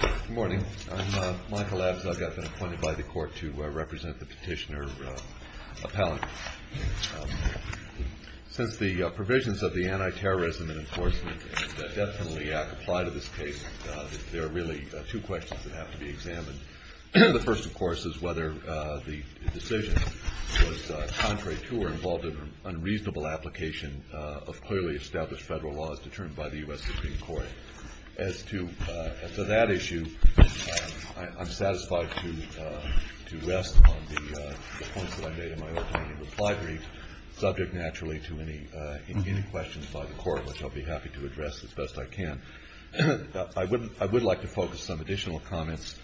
Good morning. I'm Michael Abzug. I've been appointed by the court to represent the petitioner appellant. Since the provisions of the Anti-Terrorism and Enforcement Definitely Act apply to this case, there are really two questions that have to be examined. The first, of course, is whether the decision was contrary to or involved in unreasonable application of clearly established federal laws determined by the U.S. Supreme Court. As to that issue, I'm satisfied to rest on the points that I made in my opening reply brief, subject naturally to any questions by the court, which I'll be happy to address as best I can. I would like to focus some additional comments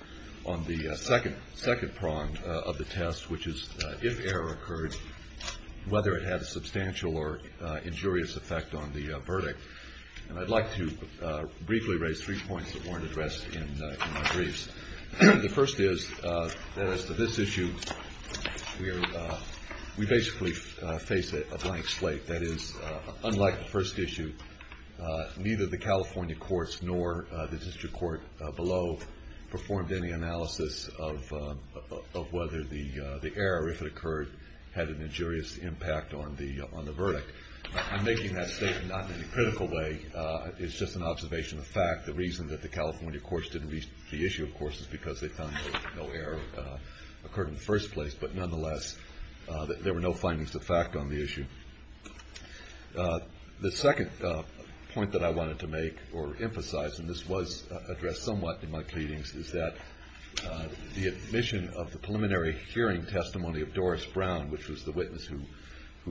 on the second prong of the test, which is if error occurred, whether it had a substantial or injurious effect on the verdict. And I'd like to briefly raise three points that weren't addressed in my briefs. The first is that as to this issue, we basically face a blank slate. That is, unlike the first issue, neither the California courts nor the district court below performed any analysis of whether the error, if it occurred, had an injurious impact on the verdict. I'm making that statement not in any critical way. It's just an observation of fact. The reason that the California courts didn't reach the issue, of course, is because they found that no error occurred in the first place, but nonetheless there were no findings of fact on the issue. The second point that I wanted to make or emphasize, and this was addressed somewhat in my pleadings, is that the admission of the preliminary hearing testimony of Doris Brown, which was the witness who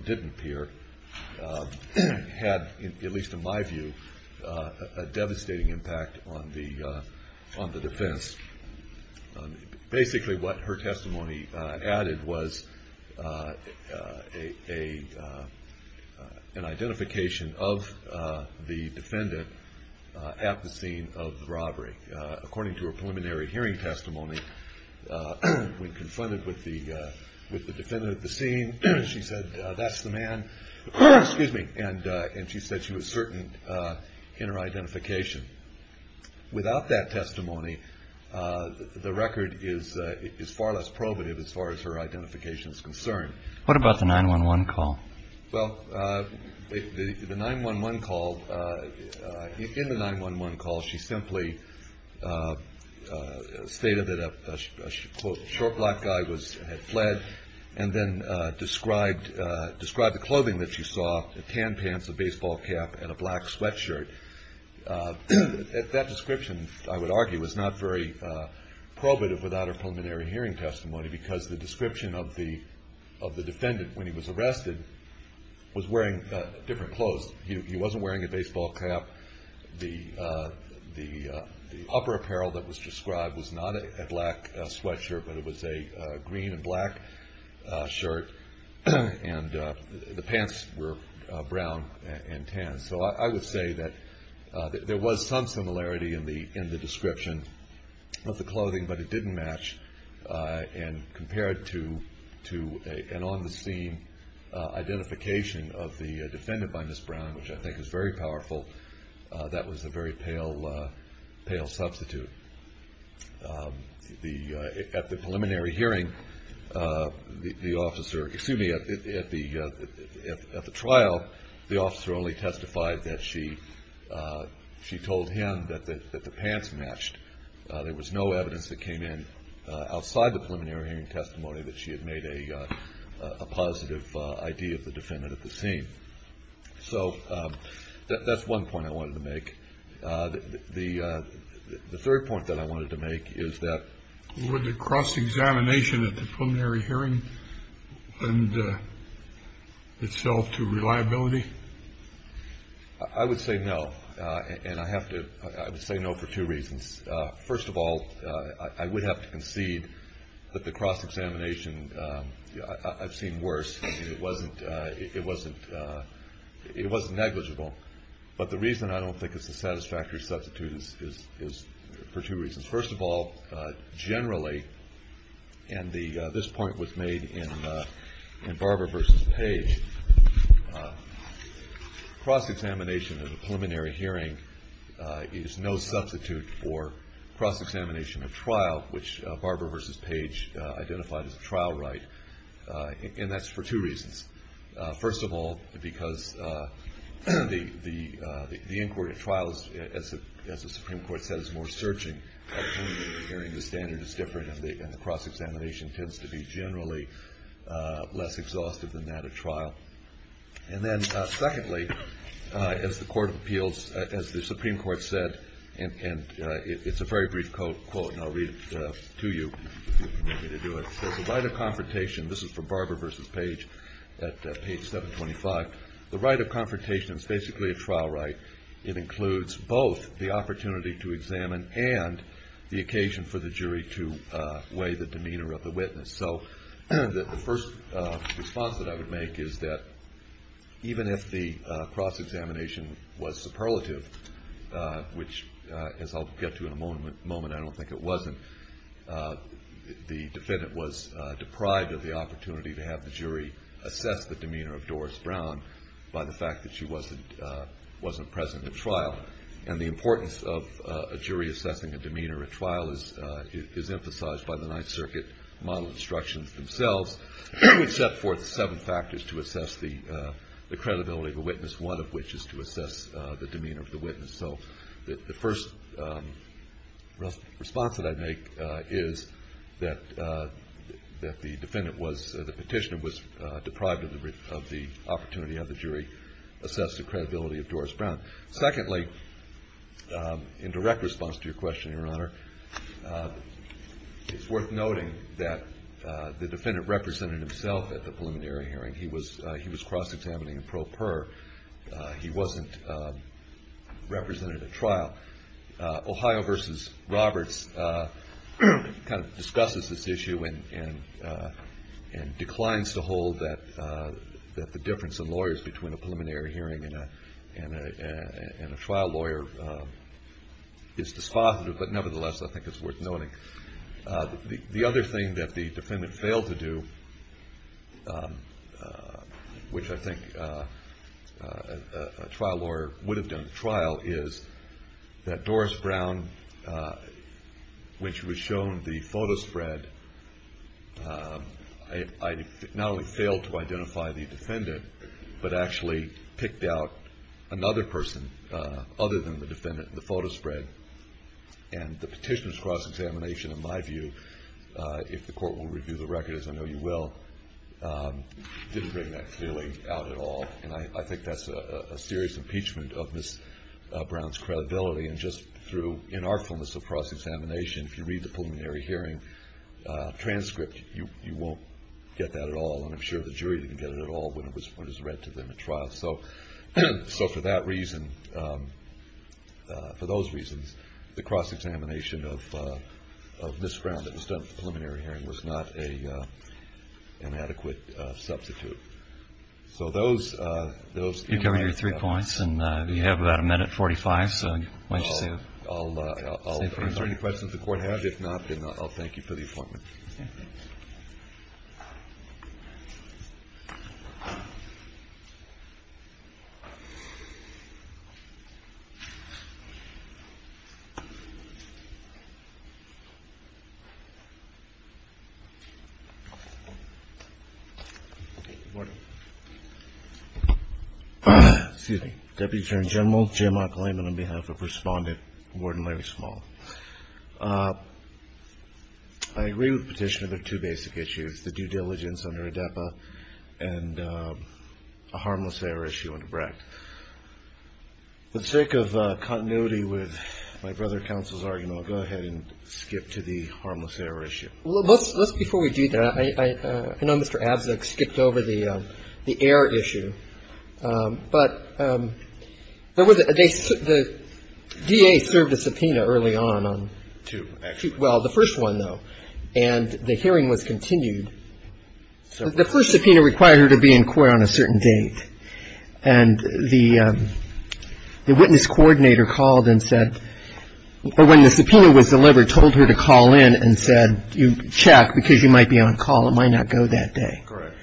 didn't appear, had, at least in my view, a devastating impact on the defense. Basically what her testimony added was an identification of the defendant at the scene of the robbery. According to her preliminary hearing testimony, when confronted with the defendant at the scene, she said, that's the man, and she said she was certain in her identification. Without that testimony, the record is far less probative as far as her identification is concerned. What about the 911 call? Well, in the 911 call, she simply stated that a, quote, short black guy had fled and then described the clothing that she saw, tan pants, a baseball cap, and a black sweatshirt. That description, I would argue, was not very probative without her preliminary hearing testimony because the description of the defendant when he was arrested was wearing different clothes. He wasn't wearing a baseball cap. The upper apparel that was described was not a black sweatshirt, but it was a green and black shirt, and the pants were brown and tan. So I would say that there was some similarity in the description of the clothing, but it didn't match compared to an on-the-scene identification of the defendant by Ms. Brown, which I think is very powerful. That was a very pale substitute. At the preliminary hearing, the officer, excuse me, at the trial, the officer only testified that she told him that the pants matched. There was no evidence that came in outside the preliminary hearing testimony that she had made a positive ID of the defendant at the scene. So that's one point I wanted to make. The third point that I wanted to make is that. Would the cross-examination at the preliminary hearing lend itself to reliability? I would say no, and I have to say no for two reasons. First of all, I would have to concede that the cross-examination, I've seen worse. It wasn't negligible. But the reason I don't think it's a satisfactory substitute is for two reasons. First of all, generally, and this point was made in Barber v. Page, cross-examination at a preliminary hearing is no substitute for cross-examination at trial, which Barber v. Page identified as a trial right. And that's for two reasons. First of all, because the inquiry at trial, as the Supreme Court said, is more searching. At a preliminary hearing, the standard is different, and the cross-examination tends to be generally less exhaustive than that at trial. And then secondly, as the Supreme Court said, and it's a very brief quote, and I'll read it to you if you want me to do it. It says the right of confrontation, this is for Barber v. Page at page 725, the right of confrontation is basically a trial right. It includes both the opportunity to examine and the occasion for the jury to weigh the demeanor of the witness. So the first response that I would make is that even if the cross-examination was superlative, which, as I'll get to in a moment, I don't think it wasn't, the defendant was deprived of the opportunity to have the jury assess the demeanor of Doris Brown by the fact that she wasn't present at trial. And the importance of a jury assessing a demeanor at trial is emphasized by the Ninth Circuit model instructions themselves, which set forth seven factors to assess the credibility of a witness, one of which is to assess the demeanor of the witness. So the first response that I'd make is that the defendant was, the petitioner was deprived of the opportunity to have the jury assess the credibility of Doris Brown. Secondly, in direct response to your question, Your Honor, it's worth noting that the defendant represented himself at the preliminary hearing. He was cross-examining in pro per. He wasn't represented at trial. Ohio v. Roberts kind of discusses this issue and declines to hold that the difference in lawyers between a preliminary hearing and a trial lawyer is dispositive, but nevertheless, I think it's worth noting. The other thing that the defendant failed to do, which I think a trial lawyer would have done at trial, is that Doris Brown, when she was shown the photo spread, not only failed to identify the defendant, but actually picked out another person other than the defendant in the photo spread. And the petitioner's cross-examination, in my view, if the court will review the record, as I know you will, didn't bring that feeling out at all. And I think that's a serious impeachment of Ms. Brown's credibility. And just through inartfulness of cross-examination, if you read the preliminary hearing transcript, you won't get that at all, and I'm sure the jury didn't get it at all when it was read to them at trial. So for that reason, for those reasons, the cross-examination of Ms. Brown that was done at the preliminary hearing was not an adequate substitute. So those things. You covered your three points, and you have about a minute 45, so why don't you say a few words. Good morning. Excuse me. Deputy Attorney General J. Mark Lehman on behalf of Respondent Warden Larry Small. I agree with the petitioner that there are two basic issues, the due diligence under ADEPA and a harmless error issue under BRACT. For the sake of continuity with my brother counsel's argument, I'll go ahead and skip to the harmless error issue. Well, let's, before we do that, I know Mr. Abzug skipped over the error issue, but there was a, the DA served a subpoena early on on two, actually. Well, the first one, though, and the hearing was continued. The first subpoena required her to be in court on a certain date, and the witness coordinator called and said, or when the subpoena was delivered, told her to call in and said, you check because you might be on call, it might not go that day. Correct.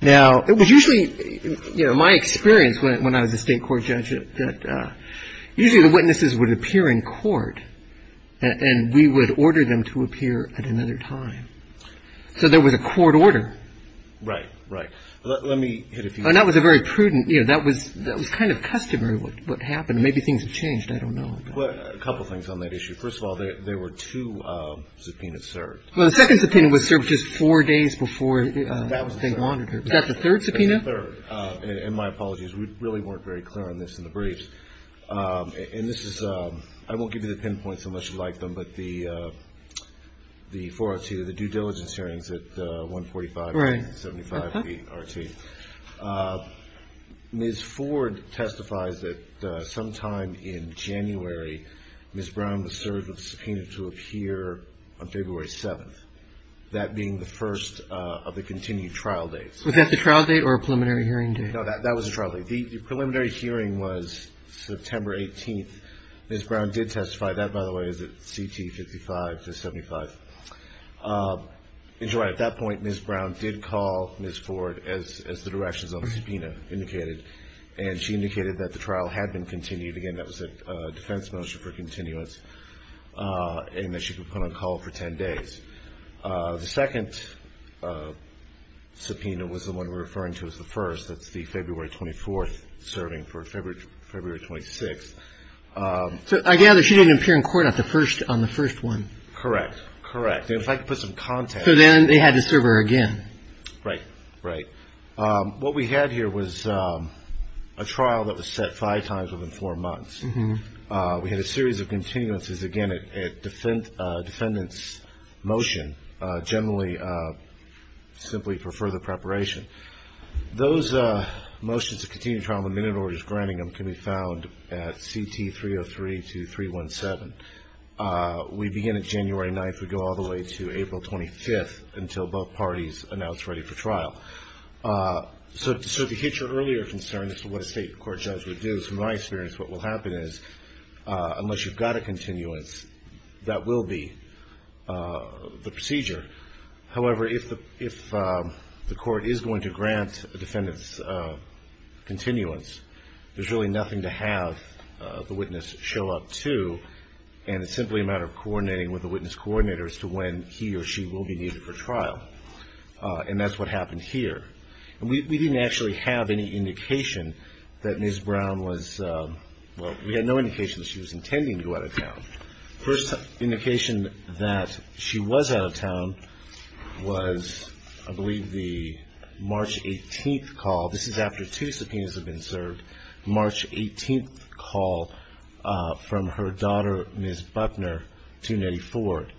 Now, it was usually, you know, my experience when I was a state court judge that usually the witnesses would appear in court, and we would order them to appear at another time. So there was a court order. Right. Right. Let me hit a few. And that was a very prudent, you know, that was kind of customary what happened. Maybe things have changed. I don't know. A couple things on that issue. First of all, there were two subpoenas served. Well, the second subpoena was served just four days before. Was that the third subpoena? The third. And my apologies. We really weren't very clear on this in the briefs. And this is, I won't give you the pinpoints unless you like them, but the 402, the due diligence hearings at 145 and 75B-RT. Ms. Ford testifies that sometime in January, Ms. Brown was served with a subpoena to appear on February 7th, that being the first of the continued trial dates. Was that the trial date or a preliminary hearing date? No, that was the trial date. The preliminary hearing was September 18th. Ms. Brown did testify. That, by the way, is at CT 55 to 75. At that point, Ms. Brown did call Ms. Ford, as the directions on the subpoena indicated, and she indicated that the trial had been continued. Again, that was a defense motion for continuance and that she could put on call for 10 days. The second subpoena was the one we're referring to as the first. That's the February 24th serving for February 26th. I gather she didn't appear in court on the first one. Correct. Correct. If I could put some context. So then they had to serve her again. Right. Right. What we had here was a trial that was set five times within four months. We had a series of continuances, again, a defendant's motion, generally simply for further preparation. Those motions to continue trial in the minute orders granting them can be found at CT 303 to 317. We begin at January 9th. We go all the way to April 25th until both parties announce ready for trial. So to hit your earlier concern as to what a state court judge would do, in my experience what will happen is unless you've got a continuance, that will be the procedure. However, if the court is going to grant a defendant's continuance, there's really nothing to have the witness show up to, and it's simply a matter of coordinating with the witness coordinator as to when he or she will be needed for trial. And that's what happened here. And we didn't actually have any indication that Ms. Brown was – well, we had no indication that she was intending to go out of town. First indication that she was out of town was, I believe, the March 18th call. This is after two subpoenas have been served. March 18th call from her daughter, Ms. Buckner, to Nettie Ford.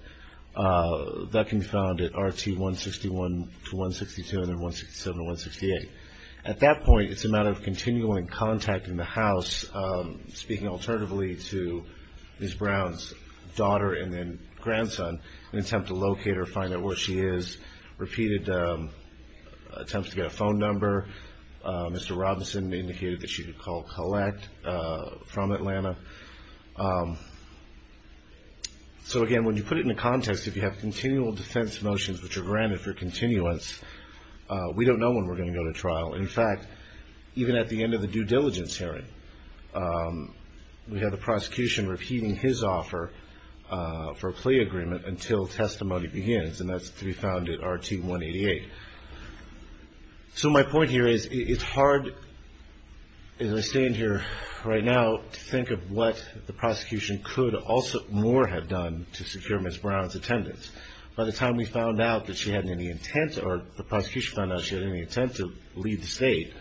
That can be found at RT 161 to 162 and then 167 to 168. At that point, it's a matter of continuing contact in the house, speaking alternatively to Ms. Brown's daughter and then grandson in an attempt to locate her, find out where she is. Repeated attempts to get a phone number. Mr. Robinson indicated that she could call Collette from Atlanta. So, again, when you put it into context, if you have continual defense motions which are granted for continuance, we don't know when we're going to go to trial. In fact, even at the end of the due diligence hearing, we have the prosecution repeating his offer for a plea agreement until testimony begins, and that's to be found at RT 188. So my point here is it's hard, as I stand here right now, to think of what the prosecution could also more have done to secure Ms. Brown's attendance. By the time we found out that she had any intent or the prosecution found out she had any intent to leave the state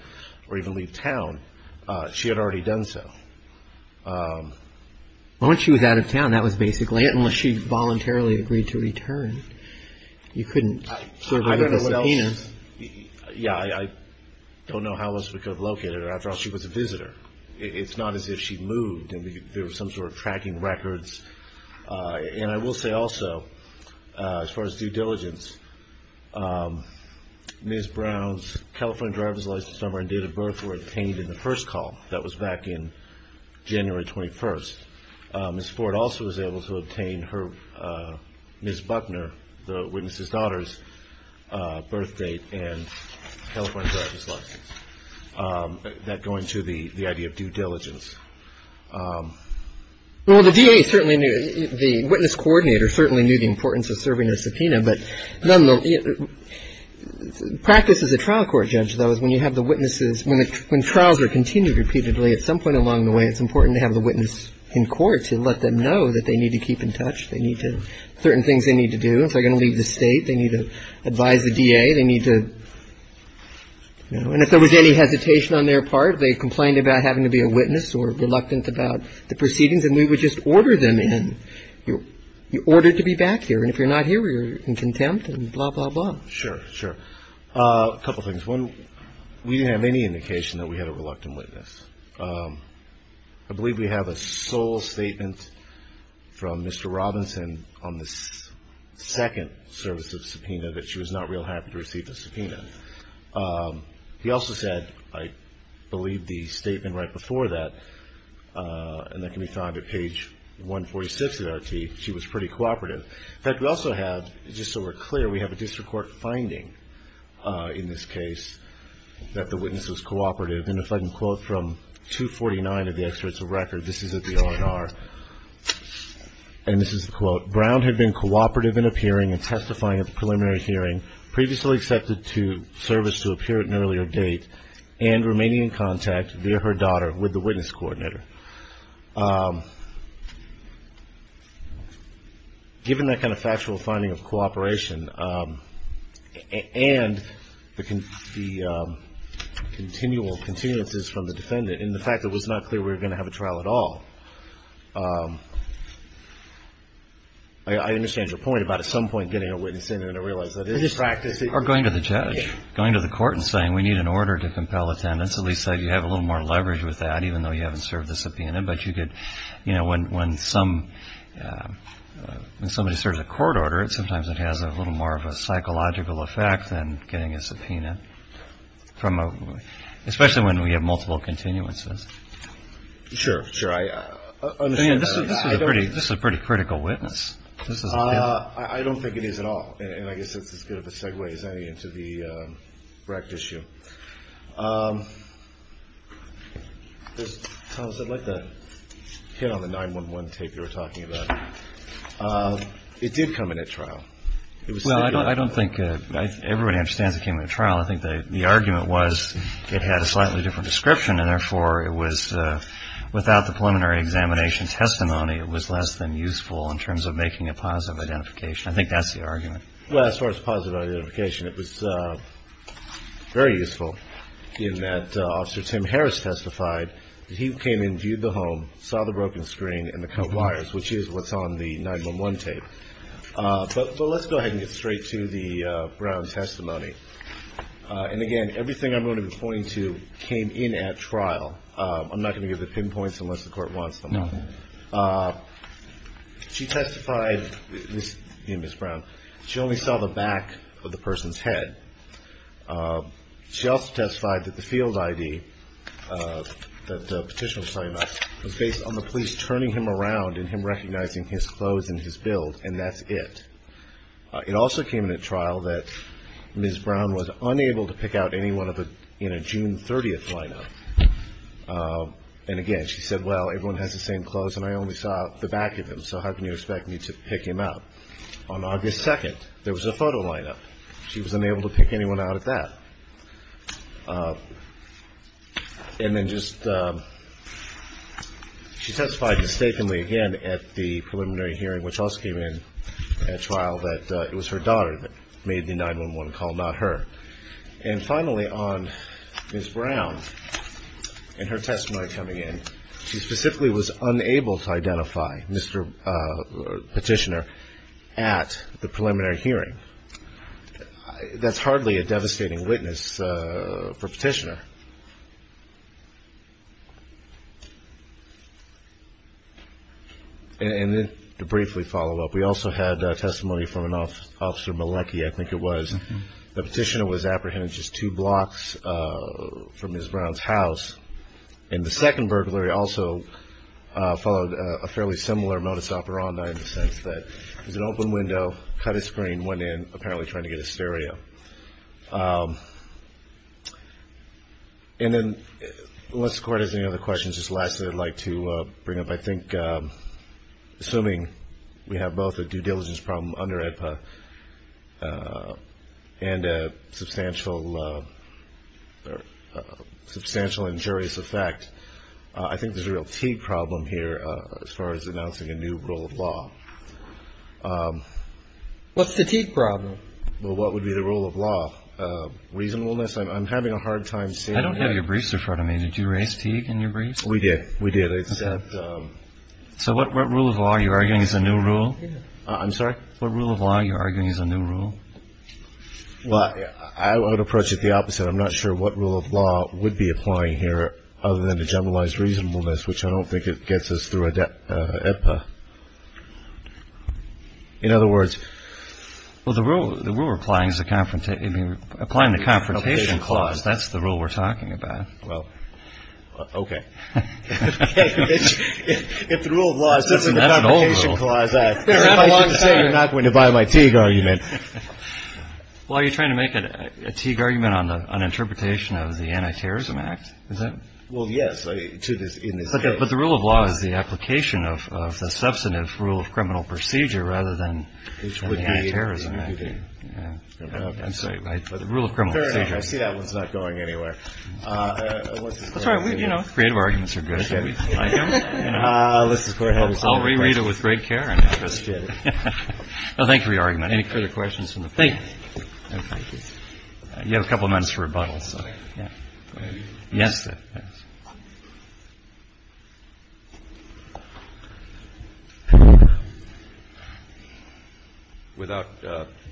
or even leave town, she had already done so. Once she was out of town, that was basically it, unless she voluntarily agreed to return. You couldn't sort of leave the cell. Yeah, I don't know how else we could have located her. After all, she was a visitor. It's not as if she moved and there was some sort of tracking records. And I will say also, as far as due diligence, Ms. Brown's California driver's license number and date of birth were obtained in the first call. That was back in January 21st. Ms. Ford also was able to obtain her, Ms. Buckner, the witness's daughter's birth date and California driver's license that go into the idea of due diligence. Well, the DA certainly knew, the witness coordinator certainly knew the importance of serving a subpoena, but practice as a trial court judge, though, is when you have the witnesses, when trials are continued repeatedly, at some point along the way, it's important to have the witness in court to let them know that they need to keep in touch, they need to, certain things they need to do. If they're going to leave the state, they need to advise the DA, they need to, you know, and if there was any hesitation on their part, they complained about having to be a witness or reluctant about the proceedings, and we would just order them in. You're ordered to be back here. And if you're not here, you're in contempt and blah, blah, blah. Sure, sure. A couple things. One, we didn't have any indication that we had a reluctant witness. I believe we have a sole statement from Mr. Robinson on the second service of subpoena that she was not real happy to receive the subpoena. He also said, I believe, the statement right before that, and that can be found at page 146 of the RT, she was pretty cooperative. In fact, we also have, just so we're clear, we have a district court finding in this case that the witness was cooperative, and if I can quote from 249 of the experts of record, this is at the R&R, and this is the quote, Brown had been cooperative in appearing and testifying at the preliminary hearing, previously accepted to service to appear at an earlier date, and remaining in contact via her daughter with the witness coordinator. Given that kind of factual finding of cooperation, and the continual continuances from the defendant, and the fact that it was not clear we were going to have a trial at all, I understand your point about at some point getting a witness in there to realize that it is practice. Or going to the judge. Going to the court and saying we need an order to compel attendance, at least that you have a little more leverage with that, even though you haven't served the subpoena. But you could, you know, when somebody serves a court order, sometimes it has a little more of a psychological effect than getting a subpoena, especially when we have multiple continuances. Sure, sure. This is a pretty critical witness. I don't think it is at all. And I guess that's as good of a segue as any into the rect issue. Thomas, I'd like to hit on the 911 tape you were talking about. It did come in at trial. Well, I don't think everybody understands it came in at trial. I think the argument was it had a slightly different description, and therefore it was without the preliminary examination testimony, it was less than useful in terms of making a positive identification. I think that's the argument. Well, as far as positive identification, it was very useful. In that Officer Tim Harris testified that he came in, viewed the home, saw the broken screen and the cut wires, which is what's on the 911 tape. But let's go ahead and get straight to the Brown testimony. And, again, everything I'm going to be pointing to came in at trial. I'm not going to give the pinpoints unless the court wants them. She testified, Ms. Brown, she only saw the back of the person's head. She also testified that the field ID that the petitioner was talking about was based on the police turning him around and him recognizing his clothes and his build, and that's it. It also came in at trial that Ms. Brown was unable to pick out anyone in a June 30th lineup. And, again, she said, well, everyone has the same clothes, and I only saw the back of him, so how can you expect me to pick him out? On August 2nd, there was a photo lineup. She was unable to pick anyone out at that. And then just, she testified mistakenly again at the preliminary hearing, which also came in at trial that it was her daughter that made the 911 call, not her. And, finally, on Ms. Brown and her testimony coming in, she specifically was unable to identify Mr. Petitioner at the preliminary hearing. That's hardly a devastating witness for Petitioner. And then to briefly follow up, we also had testimony from an officer, Malecki, I think it was. The petitioner was apprehended just two blocks from Ms. Brown's house. And the second burglary also followed a fairly similar modus operandi in the sense that it was an open window, cut a screen, went in, apparently trying to get a stereo. And then, unless the Court has any other questions, just lastly, I'd like to bring up, I think, assuming we have both a due diligence problem under AEDPA and a substantial injurious effect, I think there's a real Teague problem here as far as announcing a new rule of law. What's the Teague problem? Well, what would be the rule of law? Reasonableness, I'm having a hard time seeing. I don't have your briefs in front of me. Did you raise Teague in your briefs? We did. We did. So what rule of law are you arguing is the new rule? I'm sorry? What rule of law are you arguing is the new rule? Well, I would approach it the opposite. I'm not sure what rule of law would be applying here other than to generalize reasonableness, which I don't think it gets us through AEDPA. In other words? Well, the rule we're applying is the confrontation clause. That's the rule we're talking about. Well, okay. If the rule of law is in the confrontation clause, I should say you're not going to buy my Teague argument. Well, are you trying to make a Teague argument on an interpretation of the Anti-Terrorism Act? Is that? Well, yes. But the rule of law is the application of the substantive rule of criminal procedure rather than the Anti-Terrorism Act. I'm sorry, the rule of criminal procedure. Fair enough. I see that one's not going anywhere. That's all right. You know, creative arguments are good. I'll reread it with great care. Thank you for your argument. Any further questions from the panel? You have a couple of minutes for rebuttals. Yes.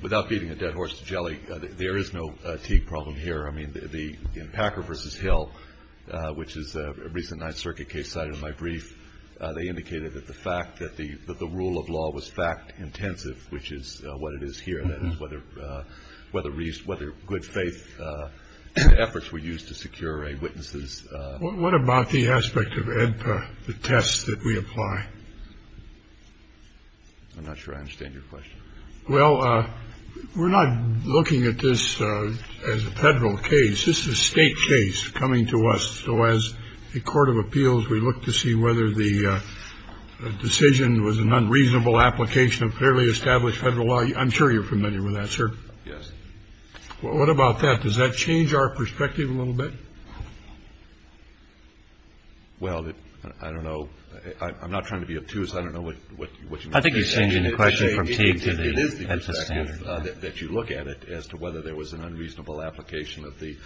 Without beating a dead horse to jelly, there is no Teague problem here. I mean, in Packer v. Hill, which is a recent Ninth Circuit case cited in my brief, they indicated that the fact that the rule of law was fact-intensive, which is what it is here, that is whether good faith efforts were used to secure a witness's ---- What about the aspect of AEDPA, the tests that we apply? I'm not sure I understand your question. Well, we're not looking at this as a Federal case. This is a State case coming to us. So as a court of appeals, we look to see whether the decision was an unreasonable application of fairly established Federal law. I'm sure you're familiar with that, sir. Yes. Well, what about that? Does that change our perspective a little bit? Well, I don't know. I'm not trying to be obtuse. I don't know what you mean. It is the perspective that you look at it as to whether there was an unreasonable application of the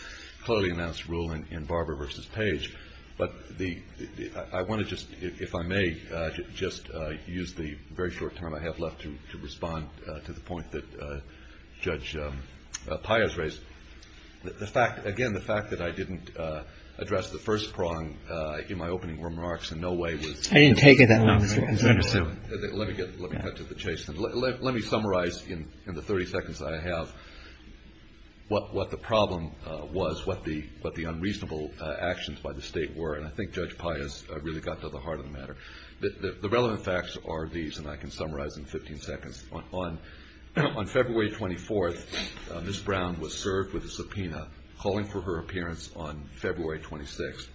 clearly announced ruling in Barber v. Page. But the ---- I want to just, if I may, just use the very short time I have left to respond to the point that Judge Pius raised. The fact ---- again, the fact that I didn't address the first prong in my opening remarks in no way was ---- I didn't take it that long. Let me cut to the chase. Let me summarize in the 30 seconds I have what the problem was, what the unreasonable actions by the State were. And I think Judge Pius really got to the heart of the matter. The relevant facts are these, and I can summarize in 15 seconds. On February 24th, Ms. Brown was served with a subpoena calling for her appearance on February 26th.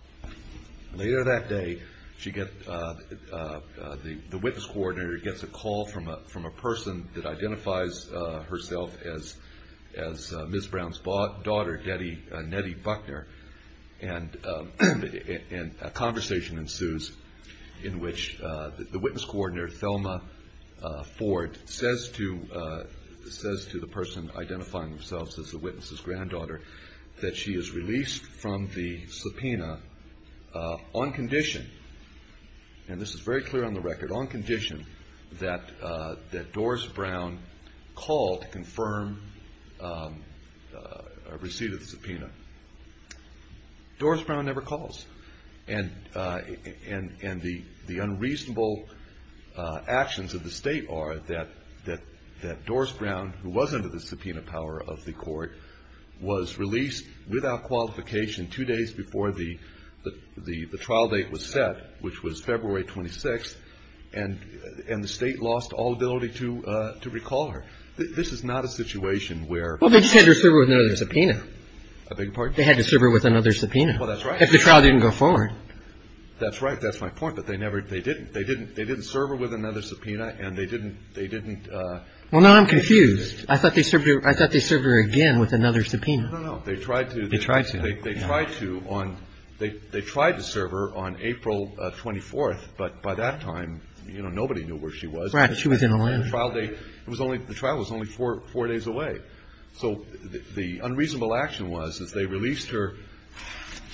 Later that day, the witness coordinator gets a call from a person that identifies herself as Ms. Brown's daughter, Nettie Buckner, and a conversation ensues in which the witness coordinator, Thelma Ford, says to the person identifying themselves as the witness's granddaughter that she is released from the subpoena on condition, and this is very clear on the record, on condition that Doris Brown call to confirm a receipt of the subpoena. Doris Brown never calls. And the unreasonable actions of the State are that Doris Brown, who was under the subpoena power of the court, was released without qualification two days before the trial date was set, which was February 26th, and the State lost all ability to recall her. This is not a situation where ---- Well, they just had to serve her with another subpoena. I beg your pardon? They had to serve her with another subpoena. Well, that's right. If the trial didn't go forward. That's right. That's my point. But they didn't. They didn't serve her with another subpoena, and they didn't ---- Well, now I'm confused. I thought they served her again with another subpoena. No, no, no. They tried to. They tried to. They tried to on ---- They tried to serve her on April 24th, but by that time, you know, nobody knew where she was. Right. She was in Atlanta. The trial was only four days away. So the unreasonable action was that they released her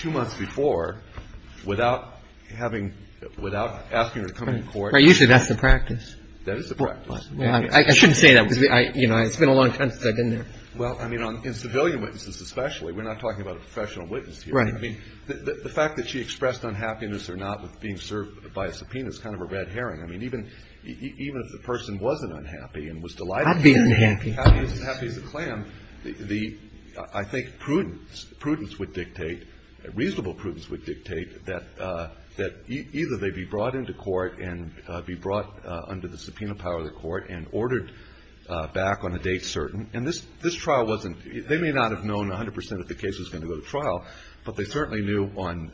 two months before without having ---- without asking her to come to court. Right. Usually that's the practice. That is the practice. I shouldn't say that because, you know, it's been a long time since I've been there. Well, I mean, in civilian witnesses especially, we're not talking about a professional witness here. Right. I mean, the fact that she expressed unhappiness or not with being served by a subpoena is kind of a red herring. I mean, even if the person wasn't unhappy and was delighted ---- I'd be unhappy. ---- happy as a clam, the ---- I think prudence, prudence would dictate, reasonable prudence would dictate that either they be brought into court and be brought under the subpoena power of the court and ordered back on a date certain. And this trial wasn't ---- they may not have known 100% of the case was going to go to trial, but they certainly knew on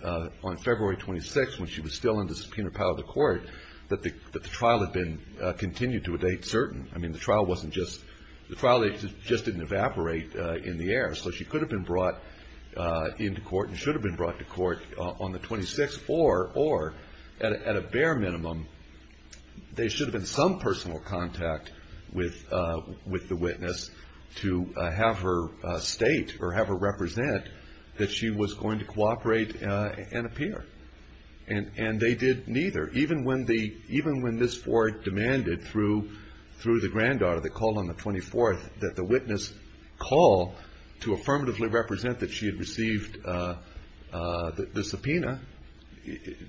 February 26th when she was still under subpoena power of the court that the trial had been continued to a date certain. I mean, the trial wasn't just ---- the trial just didn't evaporate in the air. So she could have been brought into court and should have been brought to court on the 26th or, at a bare minimum, there should have been some personal contact with the witness to have her state or have her represent that she was going to cooperate and appear. And they did neither. Even when the ---- even when this court demanded through the granddaughter that called on the 24th call to affirmatively represent that she had received the subpoena,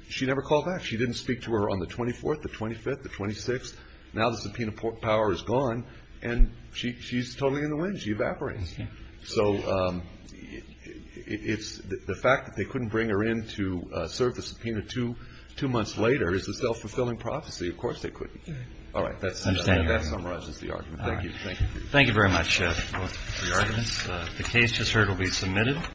she never called back. She didn't speak to her on the 24th, the 25th, the 26th. Now the subpoena power is gone, and she's totally in the wind. She evaporates. So it's the fact that they couldn't bring her in to serve the subpoena two months later is a self-fulfilling prophecy. Of course they couldn't. All right. That summarizes the argument. Thank you. Thank you very much for your arguments. The case, as heard, will be submitted.